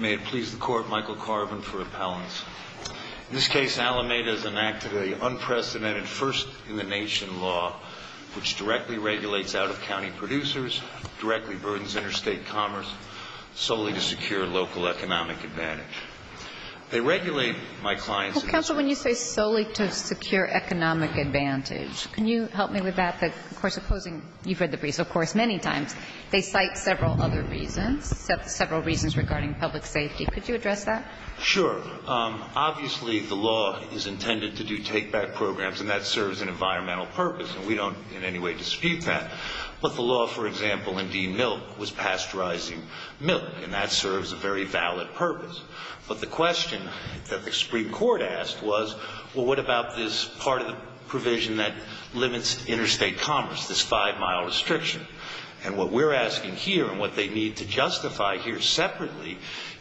May it please the Court, Michael Carvin for Appellants. In this case, Alameda has enacted an unprecedented first-in-the-nation law which directly regulates out-of-county producers, directly burdens interstate commerce, solely to secure local economic advantage. They regulate my clients... Well, Counsel, when you say solely to secure economic advantage, can you help me with that? Of course, opposing... You've read the briefs, of course, many times. They cite several other reasons, several reasons regarding public safety. Could you address that? Sure. Obviously, the law is intended to do take-back programs, and that serves an environmental purpose, and we don't in any way dispute that. But the law, for example, in D-Milk was pasteurizing milk, and that serves a very valid purpose. But the question that the Supreme Court asked was, well, what about this part of the provision that limits interstate commerce, this five-mile restriction? And what we're asking here, and what they need to justify here separately,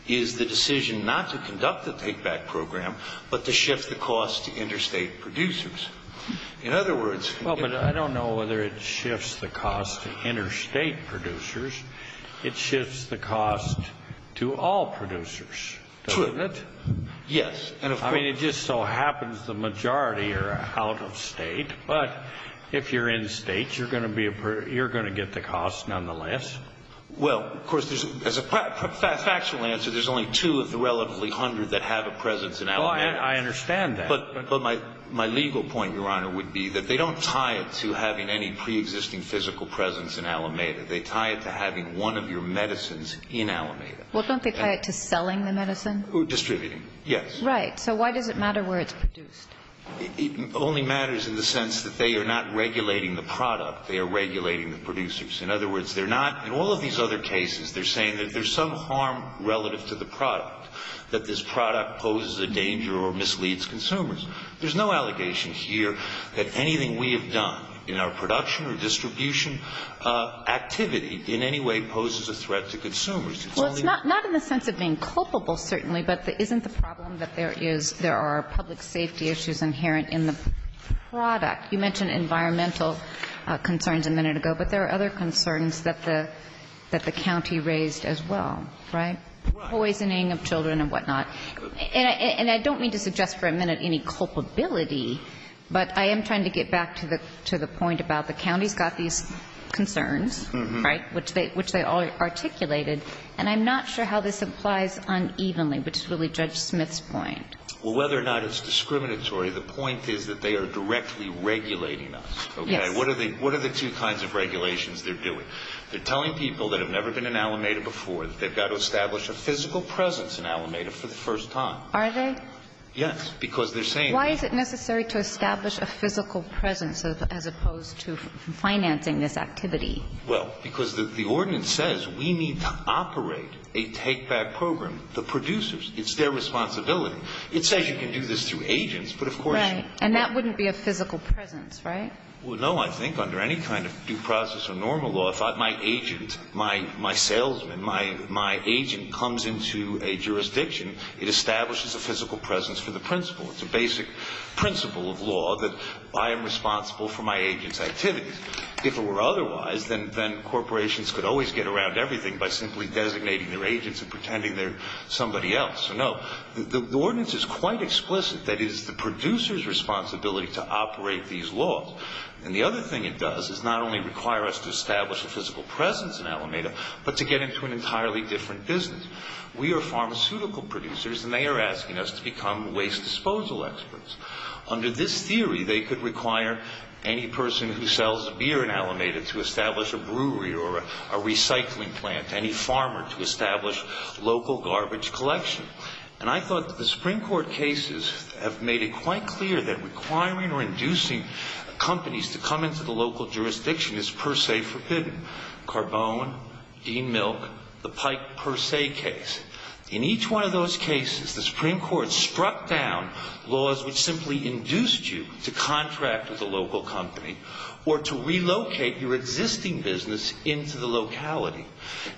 is the decision not to conduct the take-back program, but to shift the cost to interstate producers. In other words... Well, but I don't know whether it shifts the cost to interstate producers. It shifts the cost to all producers, doesn't it? Yes. I mean, it just so happens the majority are out-of-state, but if you're in-state, you're going to get the cost nonetheless. Well, of course, as a factual answer, there's only two of the relatively hundred that have a presence in Alameda. I understand that. But my legal point, Your Honor, would be that they don't tie it to having any preexisting physical presence in Alameda. They tie it to having one of your medicines in Alameda. Well, don't they tie it to selling the medicine? Distributing, yes. Right. So why does it matter where it's produced? It only matters in the sense that they are not regulating the product. They are regulating the producers. In other words, they're not – in all of these other cases, they're saying that there's some harm relative to the product, that this product poses a danger or misleads consumers. There's no allegation here that anything we have done in our production or distribution activity in any way poses a threat to consumers. It's only... Well, it's not in the sense of being culpable, certainly, but isn't the problem that there is – there are public safety issues inherent in the product? You mentioned environmental concerns a minute ago, but there are other concerns that the county raised as well, right? Right. Poisoning of children and whatnot. And I don't mean to suggest for a minute any culpability, but I am trying to get back to the point about the county's got these concerns, right, which they all articulated. And I'm not sure how this applies unevenly, which is really Judge Smith's point. Well, whether or not it's discriminatory, the point is that they are directly regulating us, okay? Yes. What are the two kinds of regulations they're doing? They're telling people that have never been in Alameda before that they've got to establish a physical presence in Alameda for the first time. Are they? Yes, because they're saying... Why is it necessary to establish a physical presence as opposed to financing this activity? Well, because the ordinance says we need to operate a take-back program, the producers. It's their responsibility. It says you can do this through agents, but of course... Right. And that wouldn't be a physical presence, right? Well, no, I think under any kind of due process or normal law, if my agent, my salesman, my agent comes into a jurisdiction, it establishes a physical presence for the principal. It's a basic principle of law that I am responsible for my agent's activities. If it were otherwise, then corporations could always get around everything by simply designating their agents and pretending they're somebody else. No, the ordinance is quite explicit. That is the producer's responsibility to operate these laws. And the other thing it does is not only require us to establish a physical presence in Alameda, but to get into an entirely different business. We are pharmaceutical producers, and they are asking us to become waste disposal experts. Under this theory, they could require any person who sells beer in Alameda to establish a brewery or a recycling plant, any farmer to establish local garbage collection. And I thought that the Supreme Court cases have made it quite clear that requiring or inducing companies to come into the local jurisdiction is per se forbidden. Carbone, Dean Milk, the Pike per se case. In each one of those cases, the Supreme Court struck down laws which simply induced you to contract with a local company or to relocate your existing business into the locality.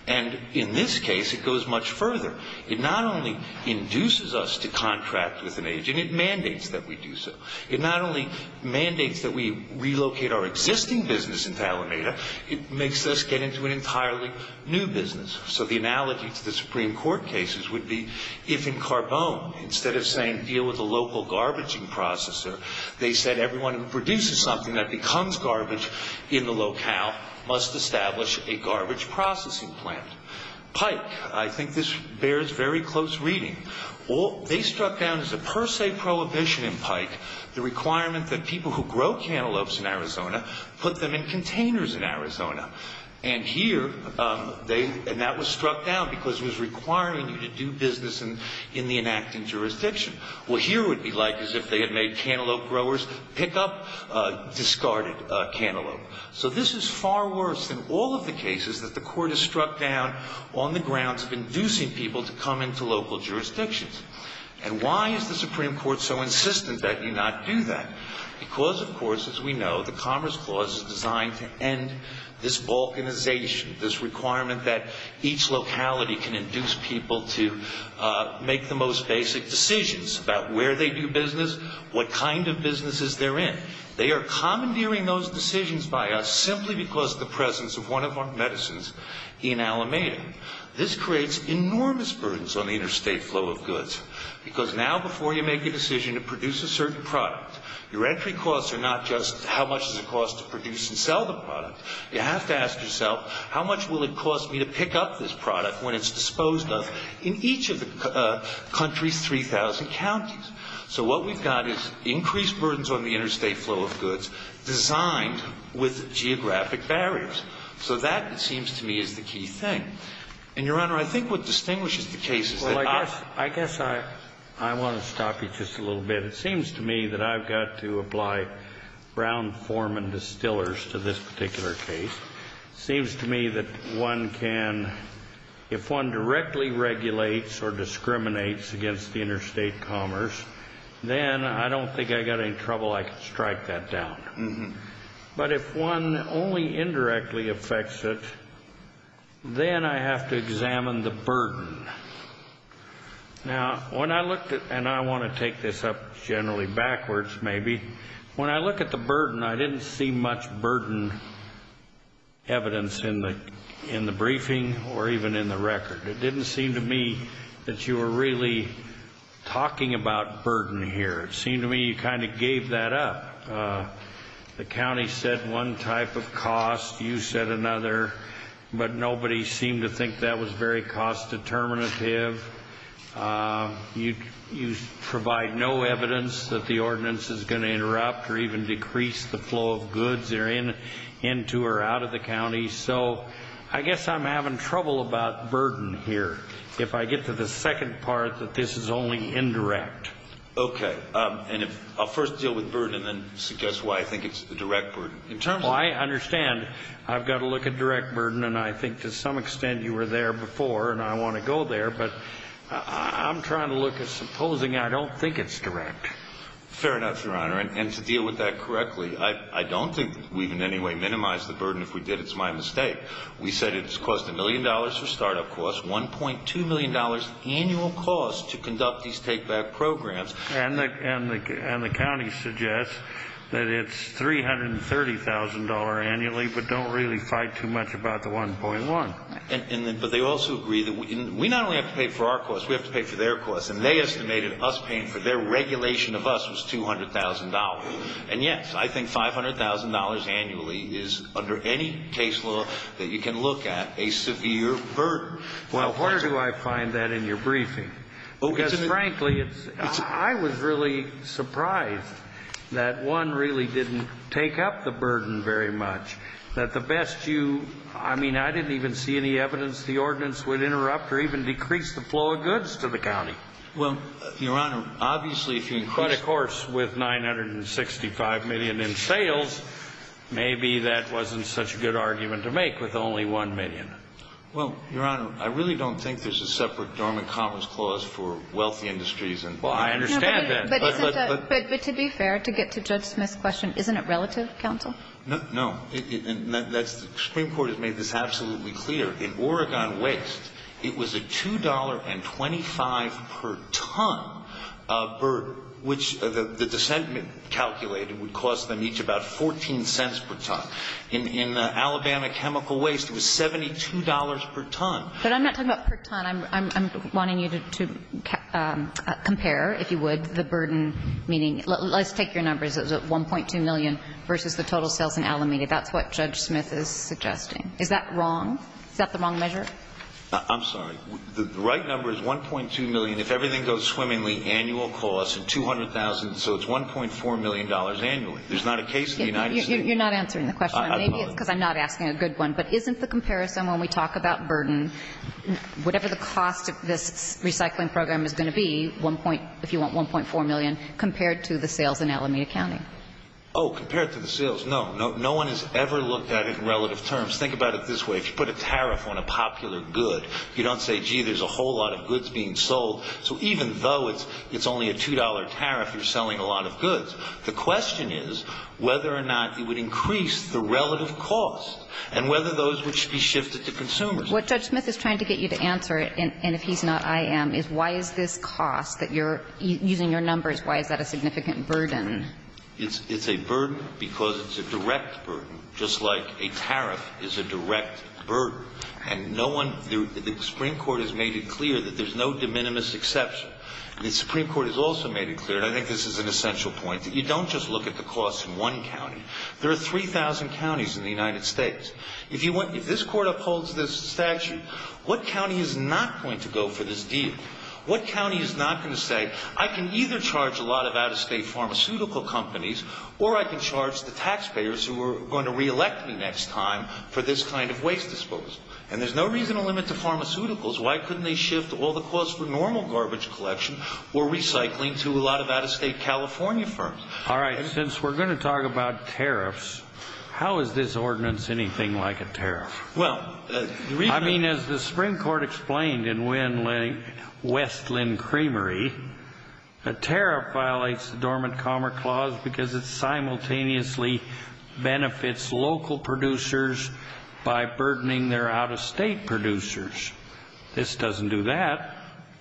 And in this case, it goes much further. It not only induces us to contract with an agent, it mandates that we do so. It not only mandates that we relocate our existing business into Alameda, it makes us get into an entirely new business. So the analogy to the Supreme Court cases would be if in Carbone, instead of saying deal with a local garbaging processor, they said everyone who produces something that becomes garbage in the locale must establish a garbage processing plant. Pike, I think this bears very close reading. They struck down as a per se prohibition in Pike the requirement that people who grow cantaloupes in Arizona put them in containers in Arizona. And here, and that was struck down because it was requiring you to do business in the enacting jurisdiction. What here would be like is if they had made cantaloupe growers pick up discarded cantaloupe. So this is far worse than all of the cases that the Court has struck down on the grounds of inducing people to come into local jurisdictions. And why is the Supreme Court so insistent that you not do that? Because, of course, as we know, the Commerce Clause is designed to end this balkanization, this requirement that each locality can induce people to make the most basic decisions about where they do business, what kind of businesses they're in. They are commandeering those decisions by us simply because of the presence of one of our medicines in Alameda. This creates enormous burdens on the interstate flow of goods because now before you make a decision to produce a certain product, your entry costs are not just how much does it cost to produce and sell the product. You have to ask yourself how much will it cost me to pick up this product when it's disposed of in each of the country's 3,000 counties. So what we've got is increased burdens on the interstate flow of goods designed with geographic barriers. So that, it seems to me, is the key thing. And, Your Honor, I think what distinguishes the cases that I've ---- I want to stop you just a little bit. It seems to me that I've got to apply brown form and distillers to this particular case. It seems to me that one can, if one directly regulates or discriminates against the interstate commerce, then I don't think I've got any trouble. I can strike that down. But if one only indirectly affects it, then I have to examine the burden. Now, when I looked at ---- and I want to take this up generally backwards maybe. When I look at the burden, I didn't see much burden evidence in the briefing or even in the record. It didn't seem to me that you were really talking about burden here. It seemed to me you kind of gave that up. The county said one type of cost. You said another. But nobody seemed to think that was very cost determinative. You provide no evidence that the ordinance is going to interrupt or even decrease the flow of goods into or out of the county. So I guess I'm having trouble about burden here if I get to the second part that this is only indirect. Okay. And I'll first deal with burden and then suggest why I think it's the direct burden. Well, I understand I've got to look at direct burden, and I think to some extent you were there before and I want to go there. But I'm trying to look at supposing I don't think it's direct. Fair enough, Your Honor. And to deal with that correctly, I don't think we've in any way minimized the burden. If we did, it's my mistake. We said it has cost a million dollars for startup costs, $1.2 million annual cost to conduct these take-back programs. And the county suggests that it's $330,000 annually, but don't really fight too much about the 1.1. But they also agree that we not only have to pay for our costs, we have to pay for their costs. And they estimated us paying for their regulation of us was $200,000. And, yes, I think $500,000 annually is, under any case law that you can look at, a severe burden. Well, where do I find that in your briefing? Because, frankly, I was really surprised that one really didn't take up the burden very much. That the best you, I mean, I didn't even see any evidence the ordinance would interrupt or even decrease the flow of goods to the county. Well, Your Honor, obviously if you increase But, of course, with $965 million in sales, maybe that wasn't such a good argument to make with only $1 million. Well, Your Honor, I really don't think there's a separate dormant commerce clause for wealthy industries. Well, I understand that. But to be fair, to get to Judge Smith's question, isn't it relative, counsel? No. The Supreme Court has made this absolutely clear. In Oregon waste, it was a $2.25 per ton burden, which the dissent calculated would cost them each about 14 cents per ton. In Alabama chemical waste, it was $72 per ton. But I'm not talking about per ton. I'm wanting you to compare, if you would, the burden, meaning let's take your numbers. It was $1.2 million versus the total sales in Alameda. That's what Judge Smith is suggesting. Is that wrong? Is that the wrong measure? I'm sorry. The right number is $1.2 million. If everything goes swimmingly, annual cost of $200,000. So it's $1.4 million annually. There's not a case in the United States. You're not answering the question. Maybe it's because I'm not asking a good one. But isn't the comparison when we talk about burden, whatever the cost of this recycling program is going to be, 1 point, if you want, 1.4 million, compared to the sales in Alameda County? Oh, compared to the sales. No. No one has ever looked at it in relative terms. Think about it this way. If you put a tariff on a popular good, you don't say, gee, there's a whole lot of goods being sold. So even though it's only a $2 tariff, you're selling a lot of goods. The question is whether or not you would increase the relative cost and whether those would be shifted to consumers. What Judge Smith is trying to get you to answer, and if he's not, I am, is why is this cost that you're using your numbers, why is that a significant burden? It's a burden because it's a direct burden, just like a tariff is a direct burden. And no one – the Supreme Court has made it clear that there's no de minimis exception. The Supreme Court has also made it clear, and I think this is an essential point that you don't just look at the costs in one county. There are 3,000 counties in the United States. If you want – if this Court upholds this statute, what county is not going to go for this deal? What county is not going to say, I can either charge a lot of out-of-state pharmaceutical companies or I can charge the taxpayers who are going to reelect me next time for this kind of waste disposal? And there's no reason to limit to pharmaceuticals. Why couldn't they shift all the costs for normal garbage collection or recycling to a lot of out-of-state California firms? All right, since we're going to talk about tariffs, how is this ordinance anything like a tariff? Well, the reason – I mean, as the Supreme Court explained in Westland Creamery, a tariff violates the Dormant Commerce Clause because it simultaneously benefits local producers by burdening their out-of-state producers.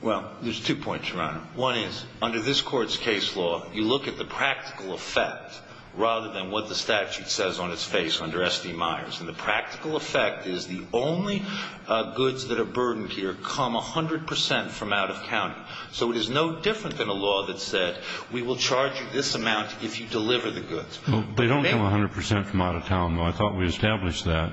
Well, there's two points, Your Honor. One is, under this Court's case law, you look at the practical effect rather than what the statute says on its face under S.D. Myers. And the practical effect is the only goods that are burdened here come 100 percent from out-of-county. So it is no different than a law that said, we will charge you this amount if you deliver the goods. They don't come 100 percent from out-of-town, though. I thought we established that.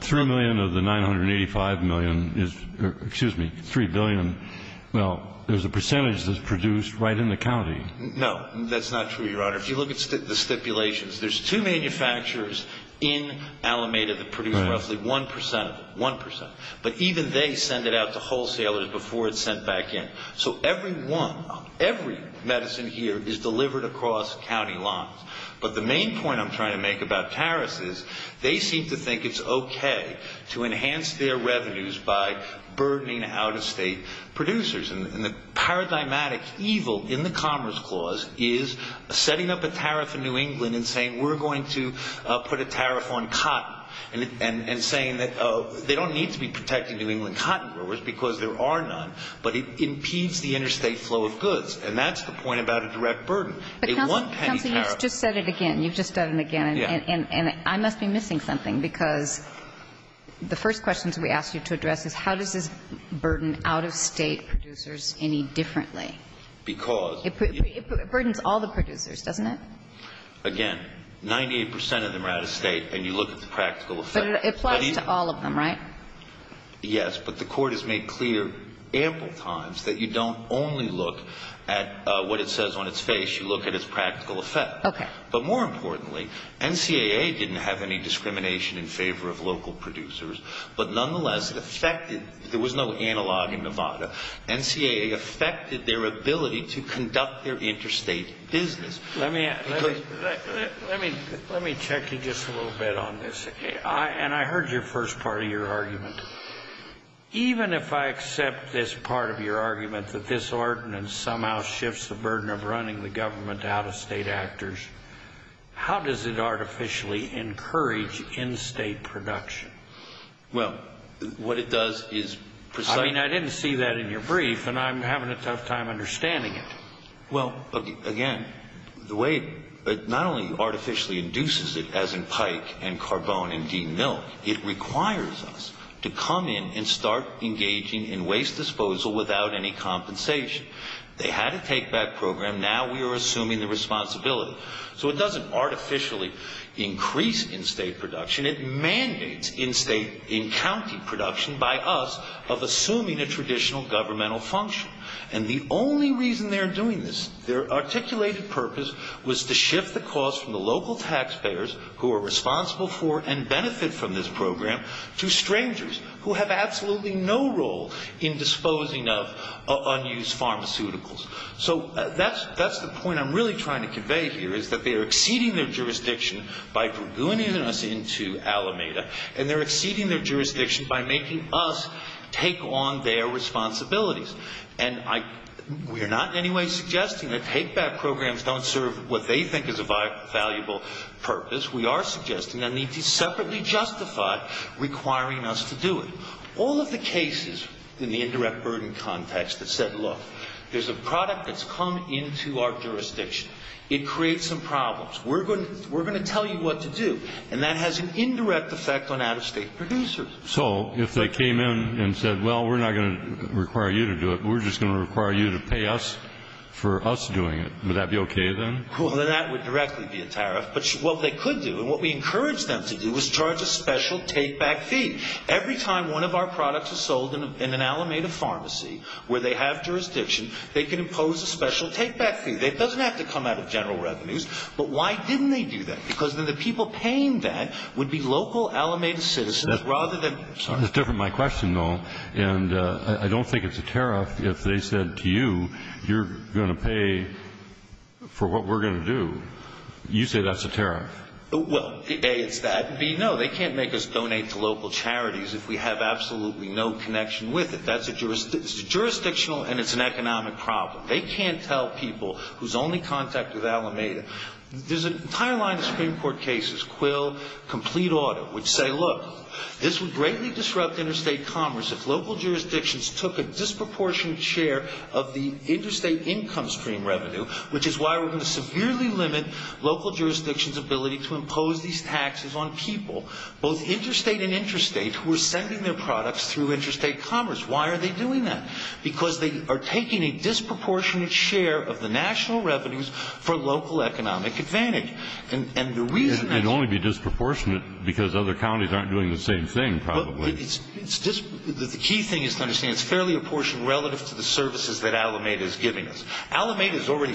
Three million of the 985 million is – or, excuse me, three billion – well, there's a percentage that's produced right in the county. No. That's not true, Your Honor. If you look at the stipulations, there's two manufacturers in Alameda that produce roughly 1 percent of it – 1 percent. But even they send it out to wholesalers before it's sent back in. So every one – every medicine here is delivered across county lines. But the main point I'm trying to make about tariffs is they seem to think it's okay to enhance their revenues by burdening out-of-state producers. And the paradigmatic evil in the Commerce Clause is setting up a tariff in New England and saying, we're going to put a tariff on cotton, and saying that they don't need to be protecting New England cotton growers because there are none, but it impedes the interstate flow of goods. And that's the point about a direct burden, a one-penny tariff. But, Counsel, you've just said it again. You've just done it again. Yeah. And I must be missing something, because the first questions we asked you to address is how does this burden out-of-state producers any differently? Because – It burdens all the producers, doesn't it? Again, 98 percent of them are out-of-state, and you look at the practical effect. But it applies to all of them, right? Yes. But the Court has made clear ample times that you don't only look at what it says on its face. You look at its practical effect. Okay. But more importantly, NCAA didn't have any discrimination in favor of local producers, but nonetheless, it affected – there was no analog in Nevada. NCAA affected their ability to conduct their interstate business. Let me – let me check you just a little bit on this. And I heard your first part of your argument. Even if I accept this part of your argument, that this ordinance somehow shifts the burden of running the government to out-of-state actors, how does it artificially encourage in-state production? Well, what it does is precisely – I mean, I didn't see that in your brief, and I'm having a tough time understanding it. Well, again, the way – not only artificially induces it, as in Pike and Carbone and Dean Milk, it requires us to come in and start engaging in waste disposal without any compensation. They had a take-back program. Now we are assuming the responsibility. So it doesn't artificially increase in-state production. It mandates in-state, in-county production by us of assuming a traditional governmental function. And the only reason they are doing this, their articulated purpose, was to shift the cost from the local taxpayers, who are responsible for and benefit from this program, to strangers who have absolutely no role in disposing of unused pharmaceuticals. So that's the point I'm really trying to convey here, is that they are exceeding their jurisdiction by dragooning us into Alameda, and they're exceeding their jurisdiction by making us take on their responsibilities. And we are not in any way suggesting that take-back programs don't serve what they think is a valuable purpose. We are suggesting they need to separately justify requiring us to do it. All of the cases in the indirect burden context that said, look, there's a product that's come into our jurisdiction. It creates some problems. We're going to tell you what to do. And that has an indirect effect on out-of-state producers. So if they came in and said, well, we're not going to require you to do it. We're just going to require you to pay us for us doing it. Would that be okay then? Well, then that would directly be a tariff. But what they could do, and what we encouraged them to do, was charge a special take-back fee. Every time one of our products is sold in an Alameda pharmacy where they have jurisdiction, they can impose a special take-back fee. It doesn't have to come out of general revenues. But why didn't they do that? Because then the people paying that would be local Alameda citizens rather than you. It's different my question, though. And I don't think it's a tariff if they said to you, you're going to pay for what we're going to do. You say that's a tariff. Well, A, it's that. And B, no, they can't make us donate to local charities if we have absolutely no connection with it. That's jurisdictional, and it's an economic problem. They can't tell people who's only contact with Alameda. There's an entire line of Supreme Court cases, Quill, Complete Audit, which say, look, this would greatly disrupt interstate commerce if local jurisdictions took a disproportionate share of the interstate income stream revenue, which is why we're going to severely limit local jurisdictions' ability to impose these taxes on people, both interstate and interstate, who are sending their products through interstate commerce. Why are they doing that? Because they are taking a disproportionate share of the national revenues for local economic advantage. And the reason that's – It'd only be disproportionate because other counties aren't doing the same thing, probably. The key thing is to understand it's fairly apportioned relative to the services that Alameda is giving us. Alameda is already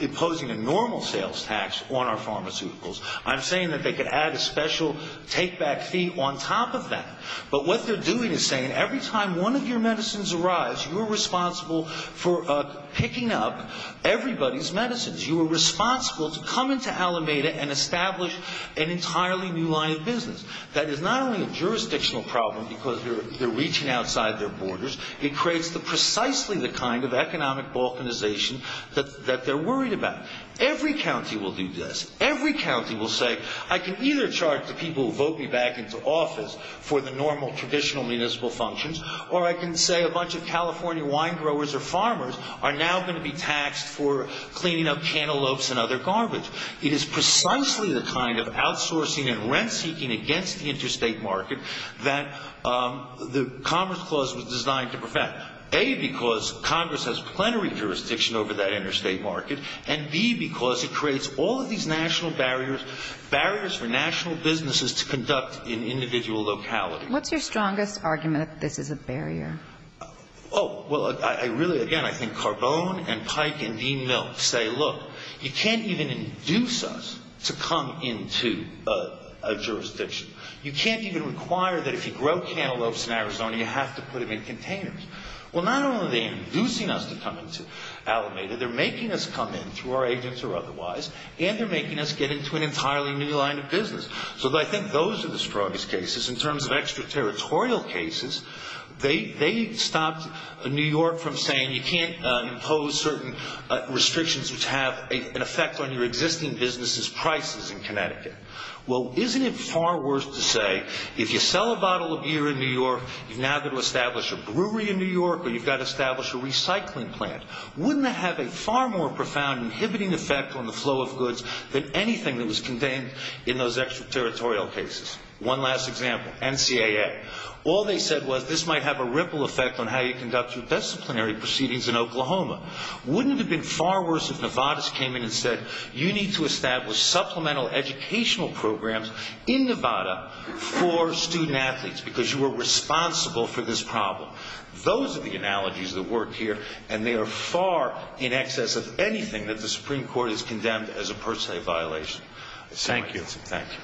imposing a normal sales tax on our pharmaceuticals. I'm saying that they could add a special take-back fee on top of that. But what they're doing is saying every time one of your medicines arrives, you're responsible for picking up everybody's medicines. You are responsible to come into Alameda and establish an entirely new line of business. That is not only a jurisdictional problem because they're reaching outside their borders. It creates precisely the kind of economic balkanization that they're worried about. Every county will do this. Every county will say, I can either charge the people who vote me back into office for the normal traditional municipal functions, or I can say a bunch of California wine growers or farmers are now going to be taxed for cleaning up cantaloupes and other garbage. It is precisely the kind of outsourcing and rent-seeking against the interstate market that the Commerce Clause was designed to prevent, A, because Congress has plenary jurisdiction over that interstate market, and B, because it creates all of these national barriers, barriers for national businesses to conduct in individual localities. What's your strongest argument that this is a barrier? Oh, well, I really, again, I think Carbone and Pike and Dean Milk say, look, you can't even induce us to come into a jurisdiction. You can't even require that if you grow cantaloupes in Arizona, you have to put them in containers. Well, not only are they inducing us to come into Alameda, they're making us come in through our agents or otherwise, and they're making us get into an entirely new line of business. So I think those are the strongest cases. In terms of extraterritorial cases, they stopped New York from saying you can't impose certain restrictions which have an effect on your existing business's prices in Connecticut. Well, isn't it far worse to say if you sell a bottle of beer in New York, you've now got to establish a brewery in New York, or you've got to establish a recycling plant. Wouldn't that have a far more profound inhibiting effect on the flow of goods than anything that was contained in those extraterritorial cases? One last example, NCAA. All they said was this might have a ripple effect on how you conduct your disciplinary proceedings in Oklahoma. Wouldn't it have been far worse if Novartis came in and said you need to establish supplemental educational programs in Nevada for student-athletes because you are responsible for this problem? Those are the analogies that work here, and they are far in excess of anything that the Supreme Court has condemned as a per se violation. Thank you. Thank you.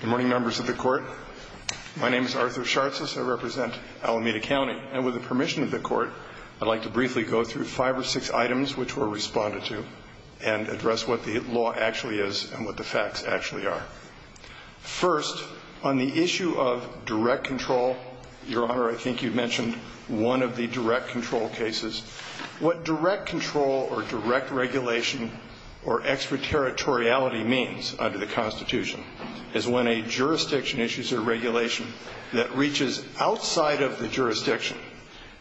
Good morning, members of the court. My name is Arthur Shartzis. I represent Alameda County, and with the permission of the court, I'd like to briefly go through five or six items which were responded to and address what the law actually is and what the facts actually are. First, on the issue of direct control, Your Honor, I think you mentioned one of the direct control cases. What direct control or direct regulation or extraterritoriality means under the Constitution is when a jurisdiction issues a regulation that reaches outside of the jurisdiction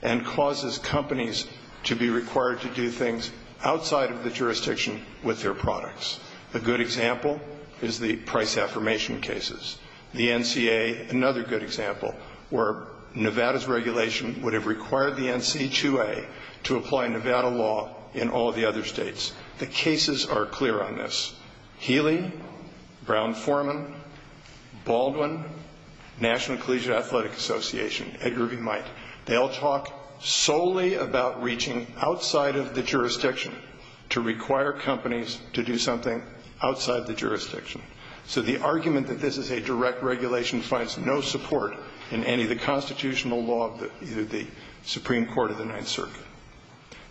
and causes companies to be required to do things outside of the jurisdiction with their products. A good example is the price affirmation cases. The NCA, another good example, where Nevada's regulation would have required the NC2A to apply Nevada law in all the other states. The cases are clear on this. Healy, Brown-Forman, Baldwin, National Collegiate Athletic Association, Edgar V. Might, they all talk solely about reaching outside of the jurisdiction to require companies to do something outside the jurisdiction. So the argument that this is a direct regulation finds no support in any of the constitutional law of either the Supreme Court or the Ninth Circuit.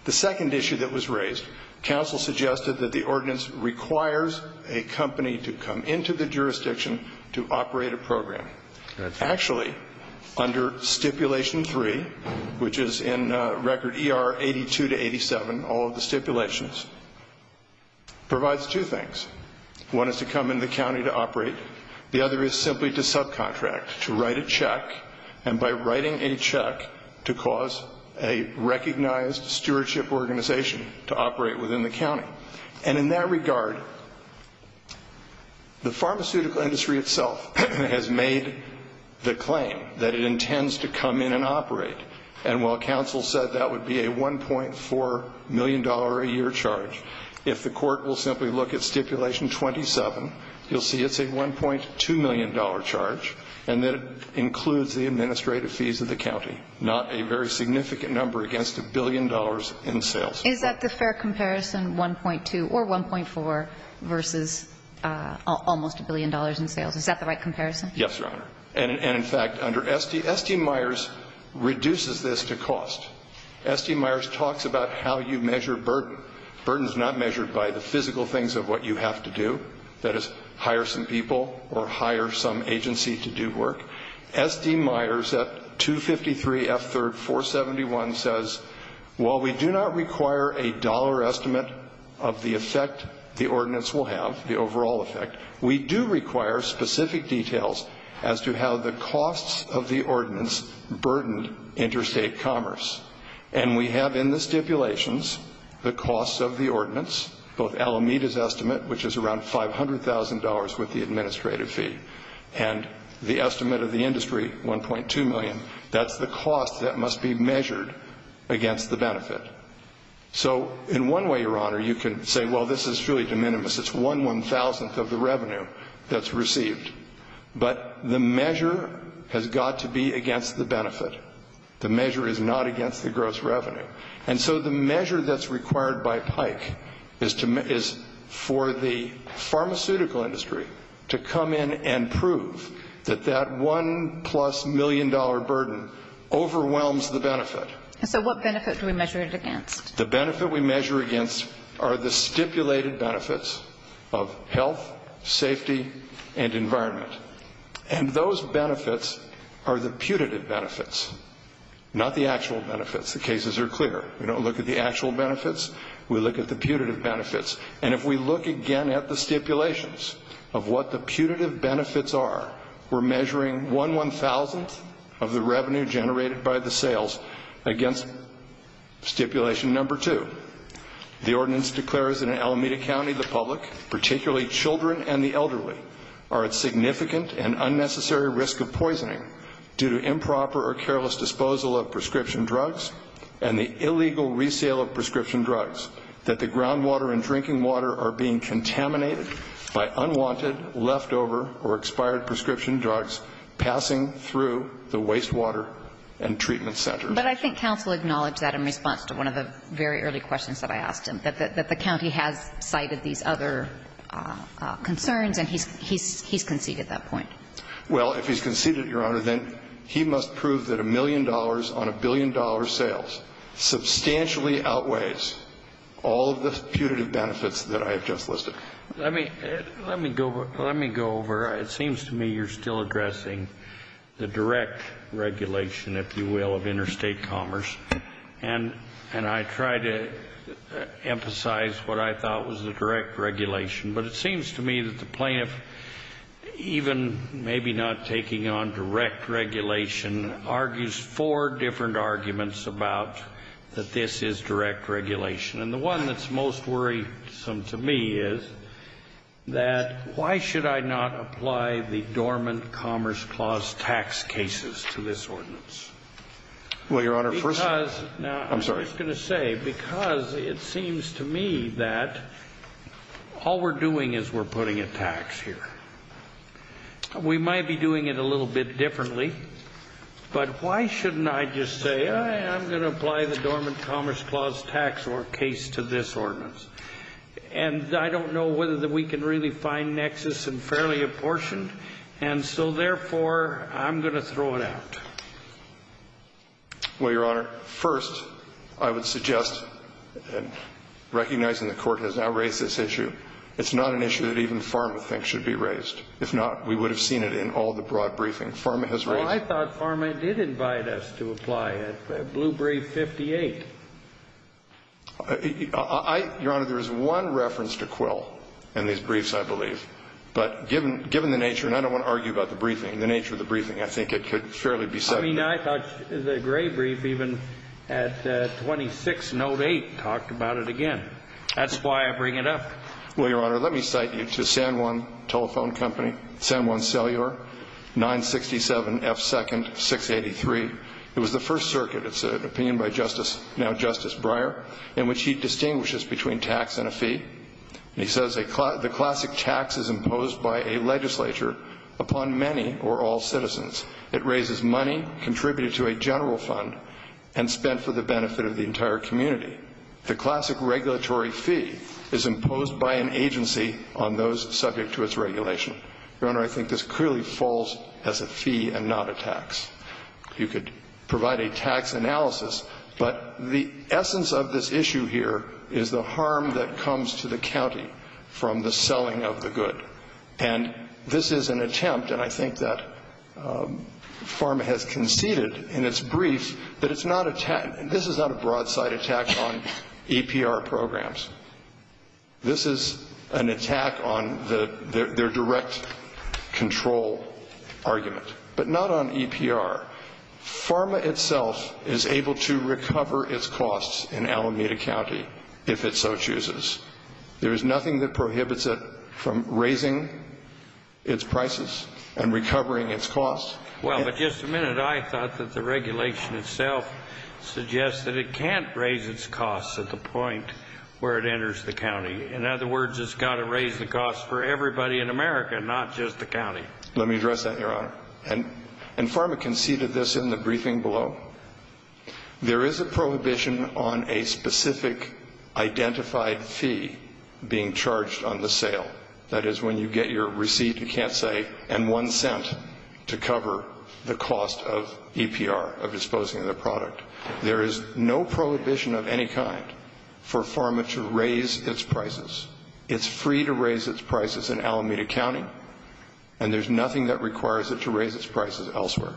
The second issue that was raised, counsel suggested that the ordinance requires a company to come into the jurisdiction to operate a program. Actually, under Stipulation 3, which is in Record ER 82 to 87, all of the stipulations, provides two things. One is to come into the county to operate. The other is simply to subcontract, to write a check, and by writing a check to cause a recognized stewardship organization to operate within the county. And in that regard, the pharmaceutical industry itself has made the claim that it intends to come in and operate. And while counsel said that would be a $1.4 million a year charge, if the court will simply look at Stipulation 27, you'll see it's a $1.2 million charge, and that it includes the administrative fees of the county, not a very significant number against a billion dollars in sales. Is that the fair comparison, 1.2 or 1.4, versus almost a billion dollars in sales? Is that the right comparison? Yes, Your Honor. And in fact, under ST, ST Myers reduces this to cost. ST Myers talks about how you measure burden. Burden is not measured by the physical things of what you have to do, that is, hire some people or hire some agency to do work. ST Myers at 253 F. 3rd 471 says, while we do not require a dollar estimate of the effect the ordinance will have, the overall effect, we do require specific details as to how the costs of the ordinance burdened interstate commerce. And we have in the stipulations the costs of the ordinance, both Alameda's estimate, which is around $500,000 with the administrative fee, and the estimate of the industry, 1.2 million. That's the cost that must be measured against the benefit. So in one way, Your Honor, you can say, well, this is truly de minimis. It's one one-thousandth of the revenue that's received. But the measure has got to be against the benefit. The measure is not against the gross revenue. And so the measure that's required by PIKE is for the pharmaceutical industry to come in and prove that that one-plus-million-dollar burden overwhelms the benefit. And so what benefit do we measure it against? The benefit we measure against are the stipulated benefits of health, safety, and environment. And those benefits are the putative benefits, not the actual benefits. The cases are clear. We don't look at the actual benefits. We look at the putative benefits. And if we look again at the stipulations of what the putative benefits are, we're measuring one one-thousandth of the revenue generated by the sales against stipulation number two. The ordinance declares in Alameda County the public, particularly children and the elderly, are at significant and unnecessary risk of poisoning due to improper or careless disposal of prescription drugs and the illegal resale of prescription drugs, that the groundwater and drinking water are being contaminated by unwanted, leftover, or expired prescription drugs passing through the wastewater and treatment centers. But I think counsel acknowledged that in response to one of the very early questions that I asked him, that the county has cited these other concerns and he's conceded that point. Well, if he's conceded it, Your Honor, then he must prove that a million dollars on a billion-dollar sales substantially outweighs all of the putative benefits that I have just listed. Let me go over. It seems to me you're still addressing the direct regulation, if you will, of interstate commerce. And I try to emphasize what I thought was the direct regulation. But it seems to me that the plaintiff, even maybe not taking on direct regulation, argues four different arguments about that this is direct regulation. And the one that's most worrisome to me is that why should I not apply the dormant Commerce Clause tax cases to this ordinance? Well, Your Honor, first of all, I'm sorry. I was going to say, because it seems to me that all we're doing is we're putting a tax here. We might be doing it a little bit differently. But why shouldn't I just say I'm going to apply the dormant Commerce Clause tax case to this ordinance? And I don't know whether we can really find nexus in fairly apportioned. And so, therefore, I'm going to throw it out. Well, Your Honor, first, I would suggest, recognizing the Court has now raised this issue, it's not an issue that even PhRMA thinks should be raised. If not, we would have seen it in all the broad briefing. PhRMA has raised it. Well, I thought PhRMA did invite us to apply it, Blue Brief 58. Your Honor, there is one reference to Quill in these briefs, I believe. But given the nature, and I don't want to argue about the briefing, the nature of the briefing, I think it could fairly be said. I mean, I thought the Gray Brief, even at 26 Note 8, talked about it again. That's why I bring it up. Well, Your Honor, let me cite you to San Juan Telephone Company, San Juan Cellular, 967 F. 2nd, 683. It was the First Circuit. It's an opinion by Justice, now Justice Breyer, in which he distinguishes between tax and a fee. He says the classic tax is imposed by a legislature upon many or all citizens. It raises money contributed to a general fund and spent for the benefit of the entire community. The classic regulatory fee is imposed by an agency on those subject to its regulation. Your Honor, I think this clearly falls as a fee and not a tax. You could provide a tax analysis. But the essence of this issue here is the harm that comes to the county from the selling of the good. And this is an attempt, and I think that Pharma has conceded in its brief, that it's not a tax. This is not a broadside attack on EPR programs. This is an attack on their direct control argument. But not on EPR. Pharma itself is able to recover its costs in Alameda County if it so chooses. There is nothing that prohibits it from raising its prices and recovering its costs. Well, but just a minute. I thought that the regulation itself suggests that it can't raise its costs at the point where it enters the county. In other words, it's got to raise the costs for everybody in America, not just the county. Let me address that, Your Honor. And Pharma conceded this in the briefing below. There is a prohibition on a specific identified fee being charged on the sale. That is, when you get your receipt, you can't say, and one cent to cover the cost of EPR, of disposing of the product. There is no prohibition of any kind for Pharma to raise its prices. It's free to raise its prices in Alameda County, and there's nothing that requires it to raise its prices elsewhere.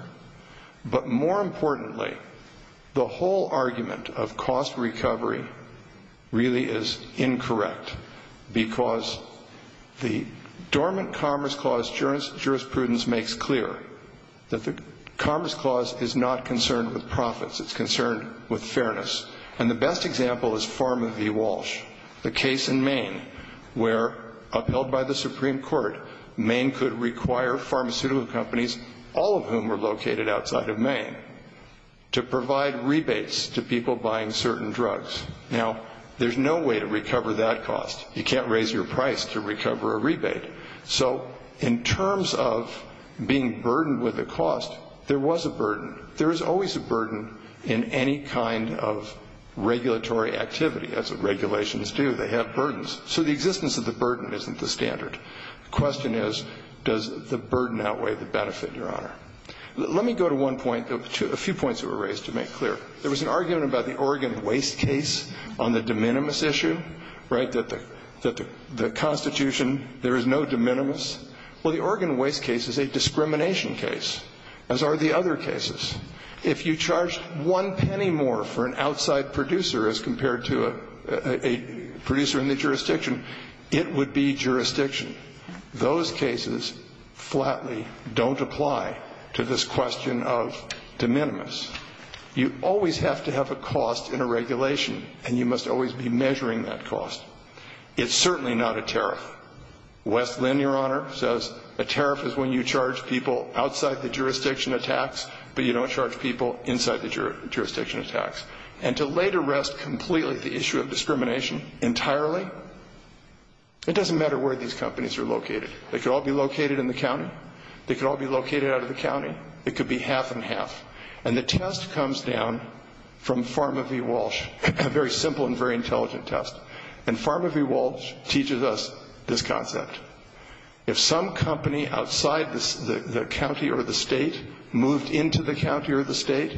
But more importantly, the whole argument of cost recovery really is incorrect, because the dormant Commerce Clause jurisprudence makes clear that the Commerce Clause is not concerned with profits. It's concerned with fairness. And the best example is Pharma v. Walsh. The case in Maine where, upheld by the Supreme Court, Maine could require pharmaceutical companies, all of whom were located outside of Maine, to provide rebates to people buying certain drugs. Now, there's no way to recover that cost. You can't raise your price to recover a rebate. So in terms of being burdened with a cost, there was a burden. There is always a burden in any kind of regulatory activity, as regulations do. They have burdens. So the existence of the burden isn't the standard. The question is, does the burden outweigh the benefit, Your Honor? Let me go to one point, a few points that were raised to make clear. There was an argument about the Oregon waste case on the de minimis issue, right, that the Constitution, there is no de minimis. Well, the Oregon waste case is a discrimination case, as are the other cases. If you charged one penny more for an outside producer as compared to a producer in the jurisdiction, it would be jurisdiction. Those cases flatly don't apply to this question of de minimis. You always have to have a cost in a regulation, and you must always be measuring that cost. It's certainly not a tariff. Wes Lynn, Your Honor, says a tariff is when you charge people outside the jurisdiction of tax, but you don't charge people inside the jurisdiction of tax. And to lay to rest completely the issue of discrimination entirely, it doesn't matter where these companies are located. They could all be located in the county. They could all be located out of the county. It could be half and half. And the test comes down from Pharma v. Walsh, a very simple and very intelligent test. And Pharma v. Walsh teaches us this concept. If some company outside the county or the state moved into the county or the state,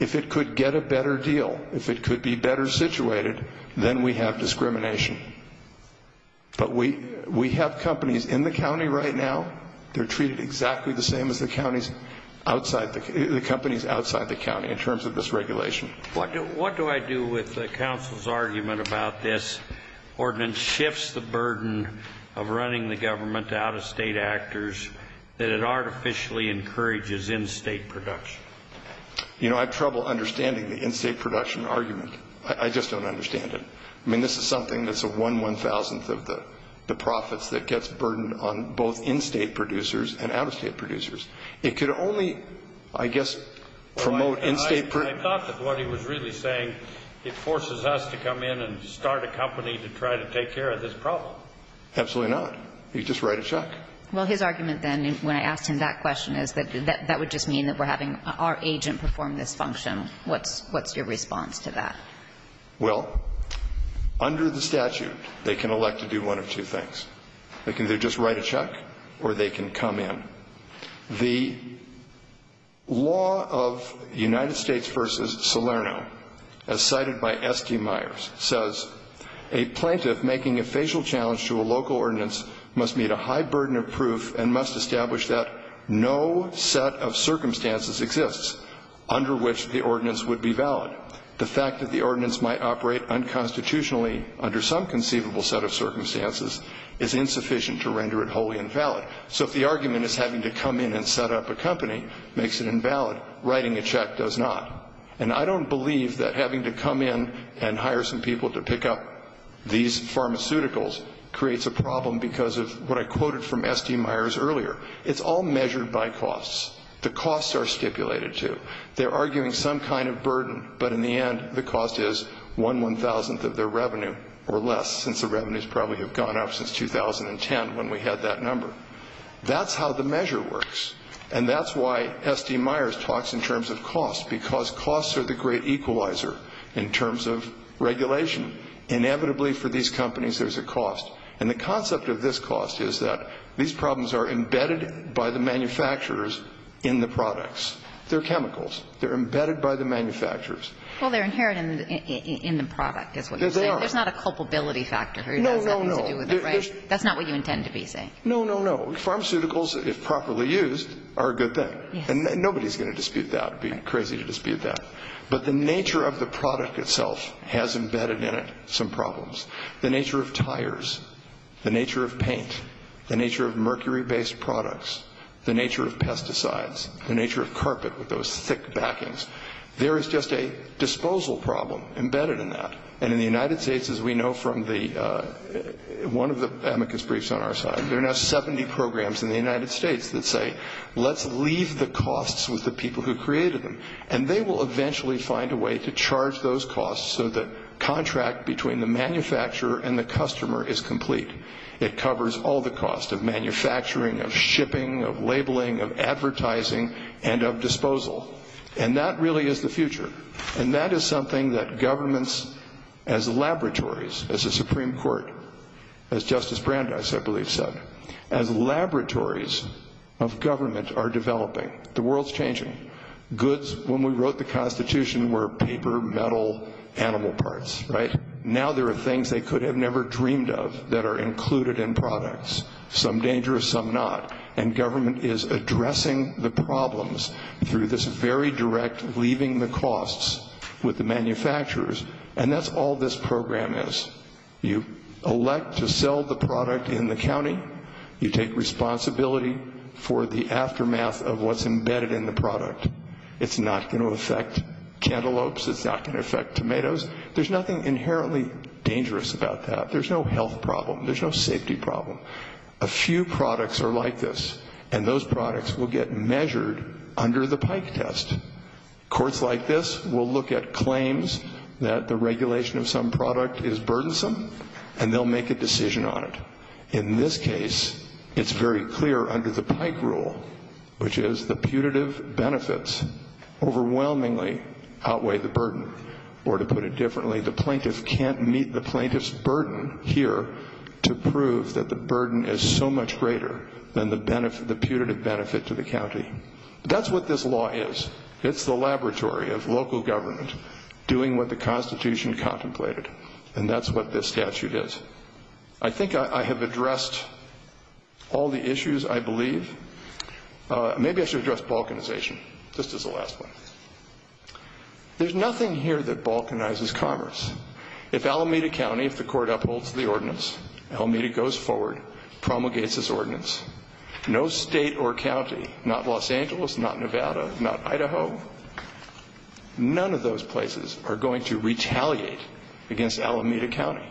if it could get a better deal, if it could be better situated, then we have discrimination. But we have companies in the county right now. They're treated exactly the same as the companies outside the county in terms of this regulation. What do I do with the counsel's argument about this ordinance shifts the burden of running the government to out-of-state actors that it artificially encourages in-state production? You know, I have trouble understanding the in-state production argument. I just don't understand it. I mean, this is something that's a one one-thousandth of the profits that gets burdened on both in-state producers and out-of-state producers. It could only, I guess, promote in-state producers. I thought that what he was really saying, it forces us to come in and start a company to try to take care of this problem. Absolutely not. You just write a check. Well, his argument then, when I asked him that question, is that that would just mean that we're having our agent perform this function. What's your response to that? Well, under the statute, they can elect to do one of two things. They can either just write a check or they can come in. The law of United States v. Salerno, as cited by S.T. Myers, says, a plaintiff making a facial challenge to a local ordinance must meet a high burden of proof and must establish that no set of circumstances exists under which the ordinance would be valid. The fact that the ordinance might operate unconstitutionally under some conceivable set of circumstances is insufficient to render it wholly invalid. So if the argument is having to come in and set up a company makes it invalid, writing a check does not. And I don't believe that having to come in and hire some people to pick up these pharmaceuticals creates a problem because of what I quoted from S.T. Myers earlier. It's all measured by costs. The costs are stipulated, too. They're arguing some kind of burden, but in the end, the cost is one one-thousandth of their revenue or less, since the revenues probably have gone up since 2010 when we had that number. That's how the measure works. And that's why S.T. Myers talks in terms of cost, because costs are the great equalizer in terms of regulation. Inevitably, for these companies, there's a cost. And the concept of this cost is that these problems are embedded by the manufacturers in the products. They're chemicals. They're embedded by the manufacturers. Well, they're inherent in the product, is what you're saying. There's not a culpability factor. No, no, no. That's not what you intend to be saying. No, no, no. Pharmaceuticals, if properly used, are a good thing. And nobody's going to dispute that. It would be crazy to dispute that. But the nature of the product itself has embedded in it some problems. The nature of tires, the nature of paint, the nature of mercury-based products, the nature of pesticides, the nature of carpet with those thick backings, there is just a disposal problem embedded in that. And in the United States, as we know from one of the amicus briefs on our side, there are now 70 programs in the United States that say, let's leave the costs with the people who created them. And they will eventually find a way to charge those costs so the contract between the manufacturer and the customer is complete. It covers all the costs of manufacturing, of shipping, of labeling, of advertising, and of disposal. And that really is the future. And that is something that governments as laboratories, as the Supreme Court, as Justice Brandeis, I believe, said, as laboratories of government are developing. The world's changing. Goods, when we wrote the Constitution, were paper, metal, animal parts, right? Now there are things they could have never dreamed of that are included in products, some dangerous, some not. And government is addressing the problems through this very direct leaving the costs with the manufacturers. And that's all this program is. You elect to sell the product in the county. You take responsibility for the aftermath of what's embedded in the product. It's not going to affect cantaloupes. It's not going to affect tomatoes. There's nothing inherently dangerous about that. There's no health problem. There's no safety problem. A few products are like this, and those products will get measured under the Pike test. Courts like this will look at claims that the regulation of some product is burdensome, and they'll make a decision on it. In this case, it's very clear under the Pike rule, which is the putative benefits overwhelmingly outweigh the burden. Or to put it differently, the plaintiff can't meet the plaintiff's burden here to prove that the burden is so much greater than the putative benefit to the county. That's what this law is. It's the laboratory of local government doing what the Constitution contemplated, and that's what this statute is. I think I have addressed all the issues, I believe. Maybe I should address balkanization, just as a last one. There's nothing here that balkanizes commerce. If Alameda County, if the court upholds the ordinance, Alameda goes forward, promulgates its ordinance, no state or county, not Los Angeles, not Nevada, not Idaho, none of those places are going to retaliate against Alameda County.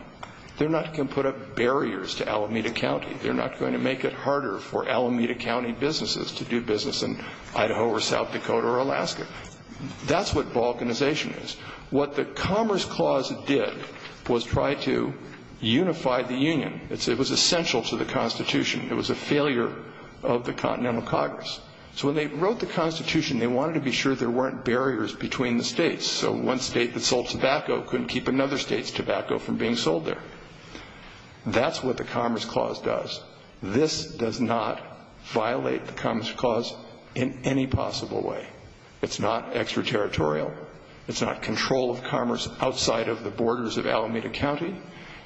They're not going to put up barriers to Alameda County. They're not going to make it harder for Alameda County businesses to do business in Idaho or South Dakota or Alaska. That's what balkanization is. What the Commerce Clause did was try to unify the union. It was essential to the Constitution. It was a failure of the Continental Congress. So when they wrote the Constitution, they wanted to be sure there weren't barriers between the states. So one state that sold tobacco couldn't keep another state's tobacco from being sold there. That's what the Commerce Clause does. This does not violate the Commerce Clause in any possible way. It's not extraterritorial. It's not control of commerce outside of the borders of Alameda County.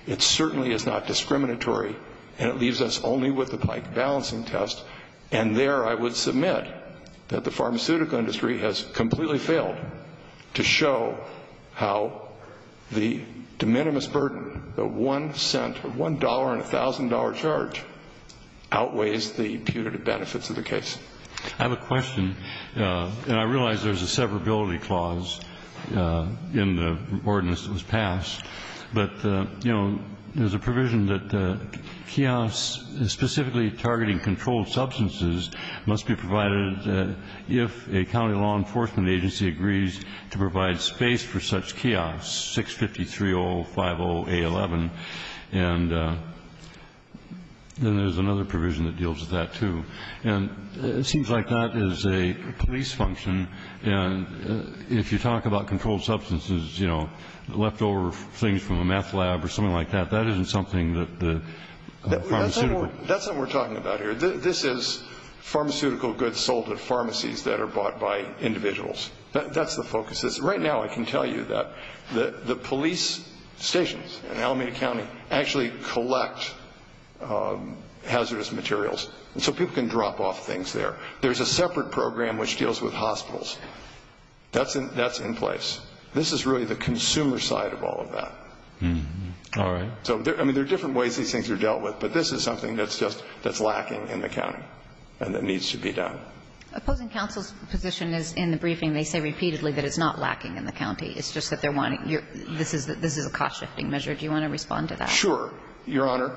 It certainly is not discriminatory. And it leaves us only with the Pike balancing test. And there I would submit that the pharmaceutical industry has completely failed to show how the de minimis burden, the $1.00 and $1,000 charge, outweighs the punitive benefits of the case. I have a question. And I realize there's a severability clause in the ordinance that was passed. But, you know, there's a provision that kiosks, specifically targeting controlled substances, must be provided if a county law enforcement agency agrees to provide space for such kiosks, 650-3050-A11. And then there's another provision that deals with that, too. And it seems like that is a police function. And if you talk about controlled substances, you know, leftover things from a math lab or something like that, that isn't something that the pharmaceuticals That's what we're talking about here. This is pharmaceutical goods sold at pharmacies that are bought by individuals. That's the focus. Right now I can tell you that the police stations in Alameda County actually collect hazardous materials. So people can drop off things there. There's a separate program which deals with hospitals. That's in place. This is really the consumer side of all of that. All right. So, I mean, there are different ways these things are dealt with. But this is something that's just lacking in the county and that needs to be done. Opposing counsel's position is in the briefing they say repeatedly that it's not lacking in the county. It's just that they're wanting your this is a cost-shifting measure. Do you want to respond to that? Sure, Your Honor.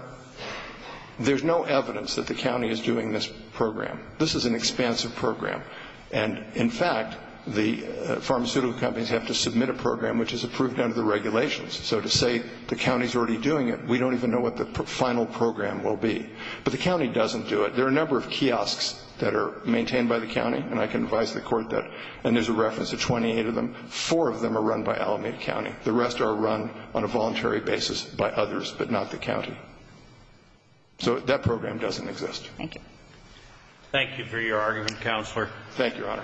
There's no evidence that the county is doing this program. This is an expansive program. And, in fact, the pharmaceutical companies have to submit a program which is approved under the regulations. So to say the county's already doing it, we don't even know what the final program will be. But the county doesn't do it. There are a number of kiosks that are maintained by the county, and I can advise the court that, and there's a reference to 28 of them, four of them are run by Alameda County. The rest are run on a voluntary basis by others, but not the county. So that program doesn't exist. Thank you. Thank you for your argument, Counselor. Thank you, Your Honor.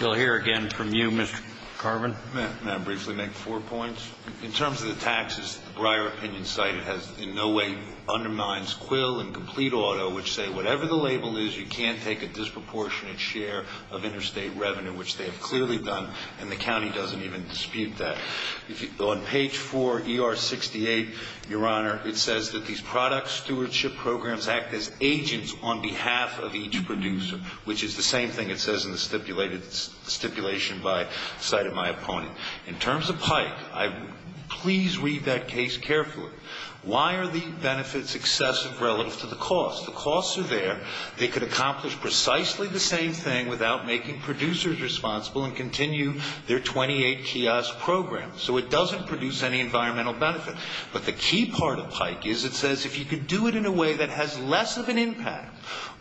We'll hear again from you, Mr. Carvin. May I briefly make four points? In terms of the taxes, the Breyer opinion cited has in no way undermines Quill and Complete Auto, which say whatever the label is, you can't take a disproportionate share of interstate revenue, which they have clearly done, and the county doesn't even dispute that. On page 4, ER 68, Your Honor, it says that these product stewardship programs act as agents on behalf of each producer, which is the same thing it says in the stipulation cited by my opponent. In terms of Pike, please read that case carefully. Why are the benefits excessive relative to the cost? The costs are there. They could accomplish precisely the same thing without making producers responsible and continue their 28 kiosk program, so it doesn't produce any environmental benefit. But the key part of Pike is it says if you could do it in a way that has less of an impact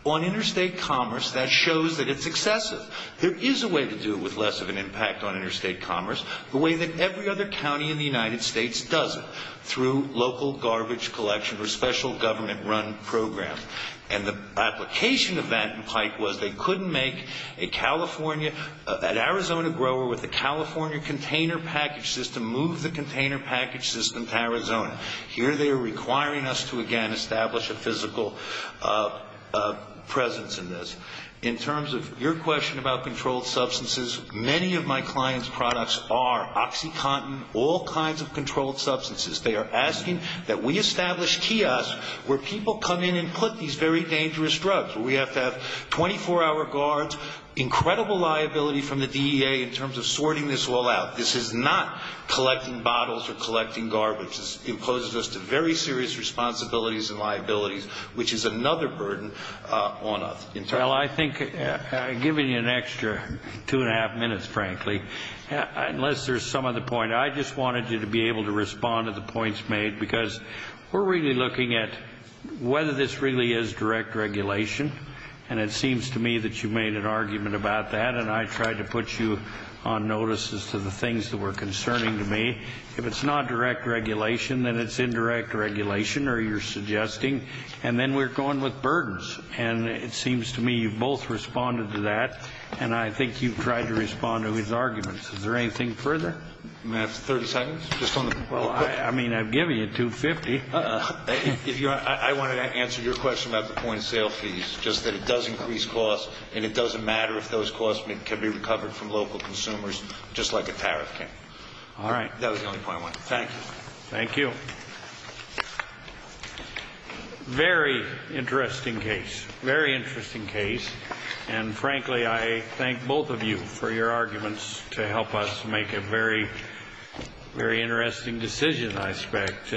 on interstate commerce, that shows that it's excessive. There is a way to do it with less of an impact on interstate commerce, the way that every other county in the United States does it, through local garbage collection or special government-run programs. And the application of that in Pike was they couldn't make a California, an Arizona grower with a California container package system move the container package system to Arizona. Here they are requiring us to, again, establish a physical presence in this. In terms of your question about controlled substances, many of my clients' products are OxyContin, all kinds of controlled substances. They are asking that we establish kiosks where people come in and put these very dangerous drugs, where we have to have 24-hour guards, incredible liability from the DEA in terms of sorting this all out. This is not collecting bottles or collecting garbage. This imposes us to very serious responsibilities and liabilities, which is another burden on us. Well, I think I've given you an extra two-and-a-half minutes, frankly, unless there's some other point. I just wanted you to be able to respond to the points made because we're really looking at whether this really is direct regulation. And it seems to me that you made an argument about that, and I tried to put you on notice as to the things that were concerning to me. If it's not direct regulation, then it's indirect regulation, or you're suggesting, and then we're going with burdens. And it seems to me you've both responded to that, and I think you've tried to respond to his arguments. Is there anything further? May I have 30 seconds? Well, I mean, I'm giving you $250. I wanted to answer your question about the point of sale fees, just that it does increase costs, and it doesn't matter if those costs can be recovered from local consumers just like a tariff can. All right. That was the only point I wanted to make. Thank you. Thank you. Very interesting case. Very interesting case. And, frankly, I thank both of you for your arguments to help us make a very interesting decision, I expect.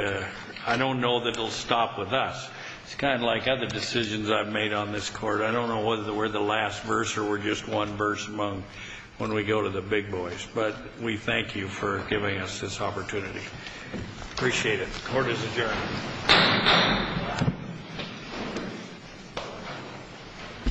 I don't know that it will stop with us. It's kind of like other decisions I've made on this Court. I don't know whether we're the last verse or we're just one verse among when we go to the big boys. But we thank you for giving us this opportunity. Appreciate it. Court is adjourned.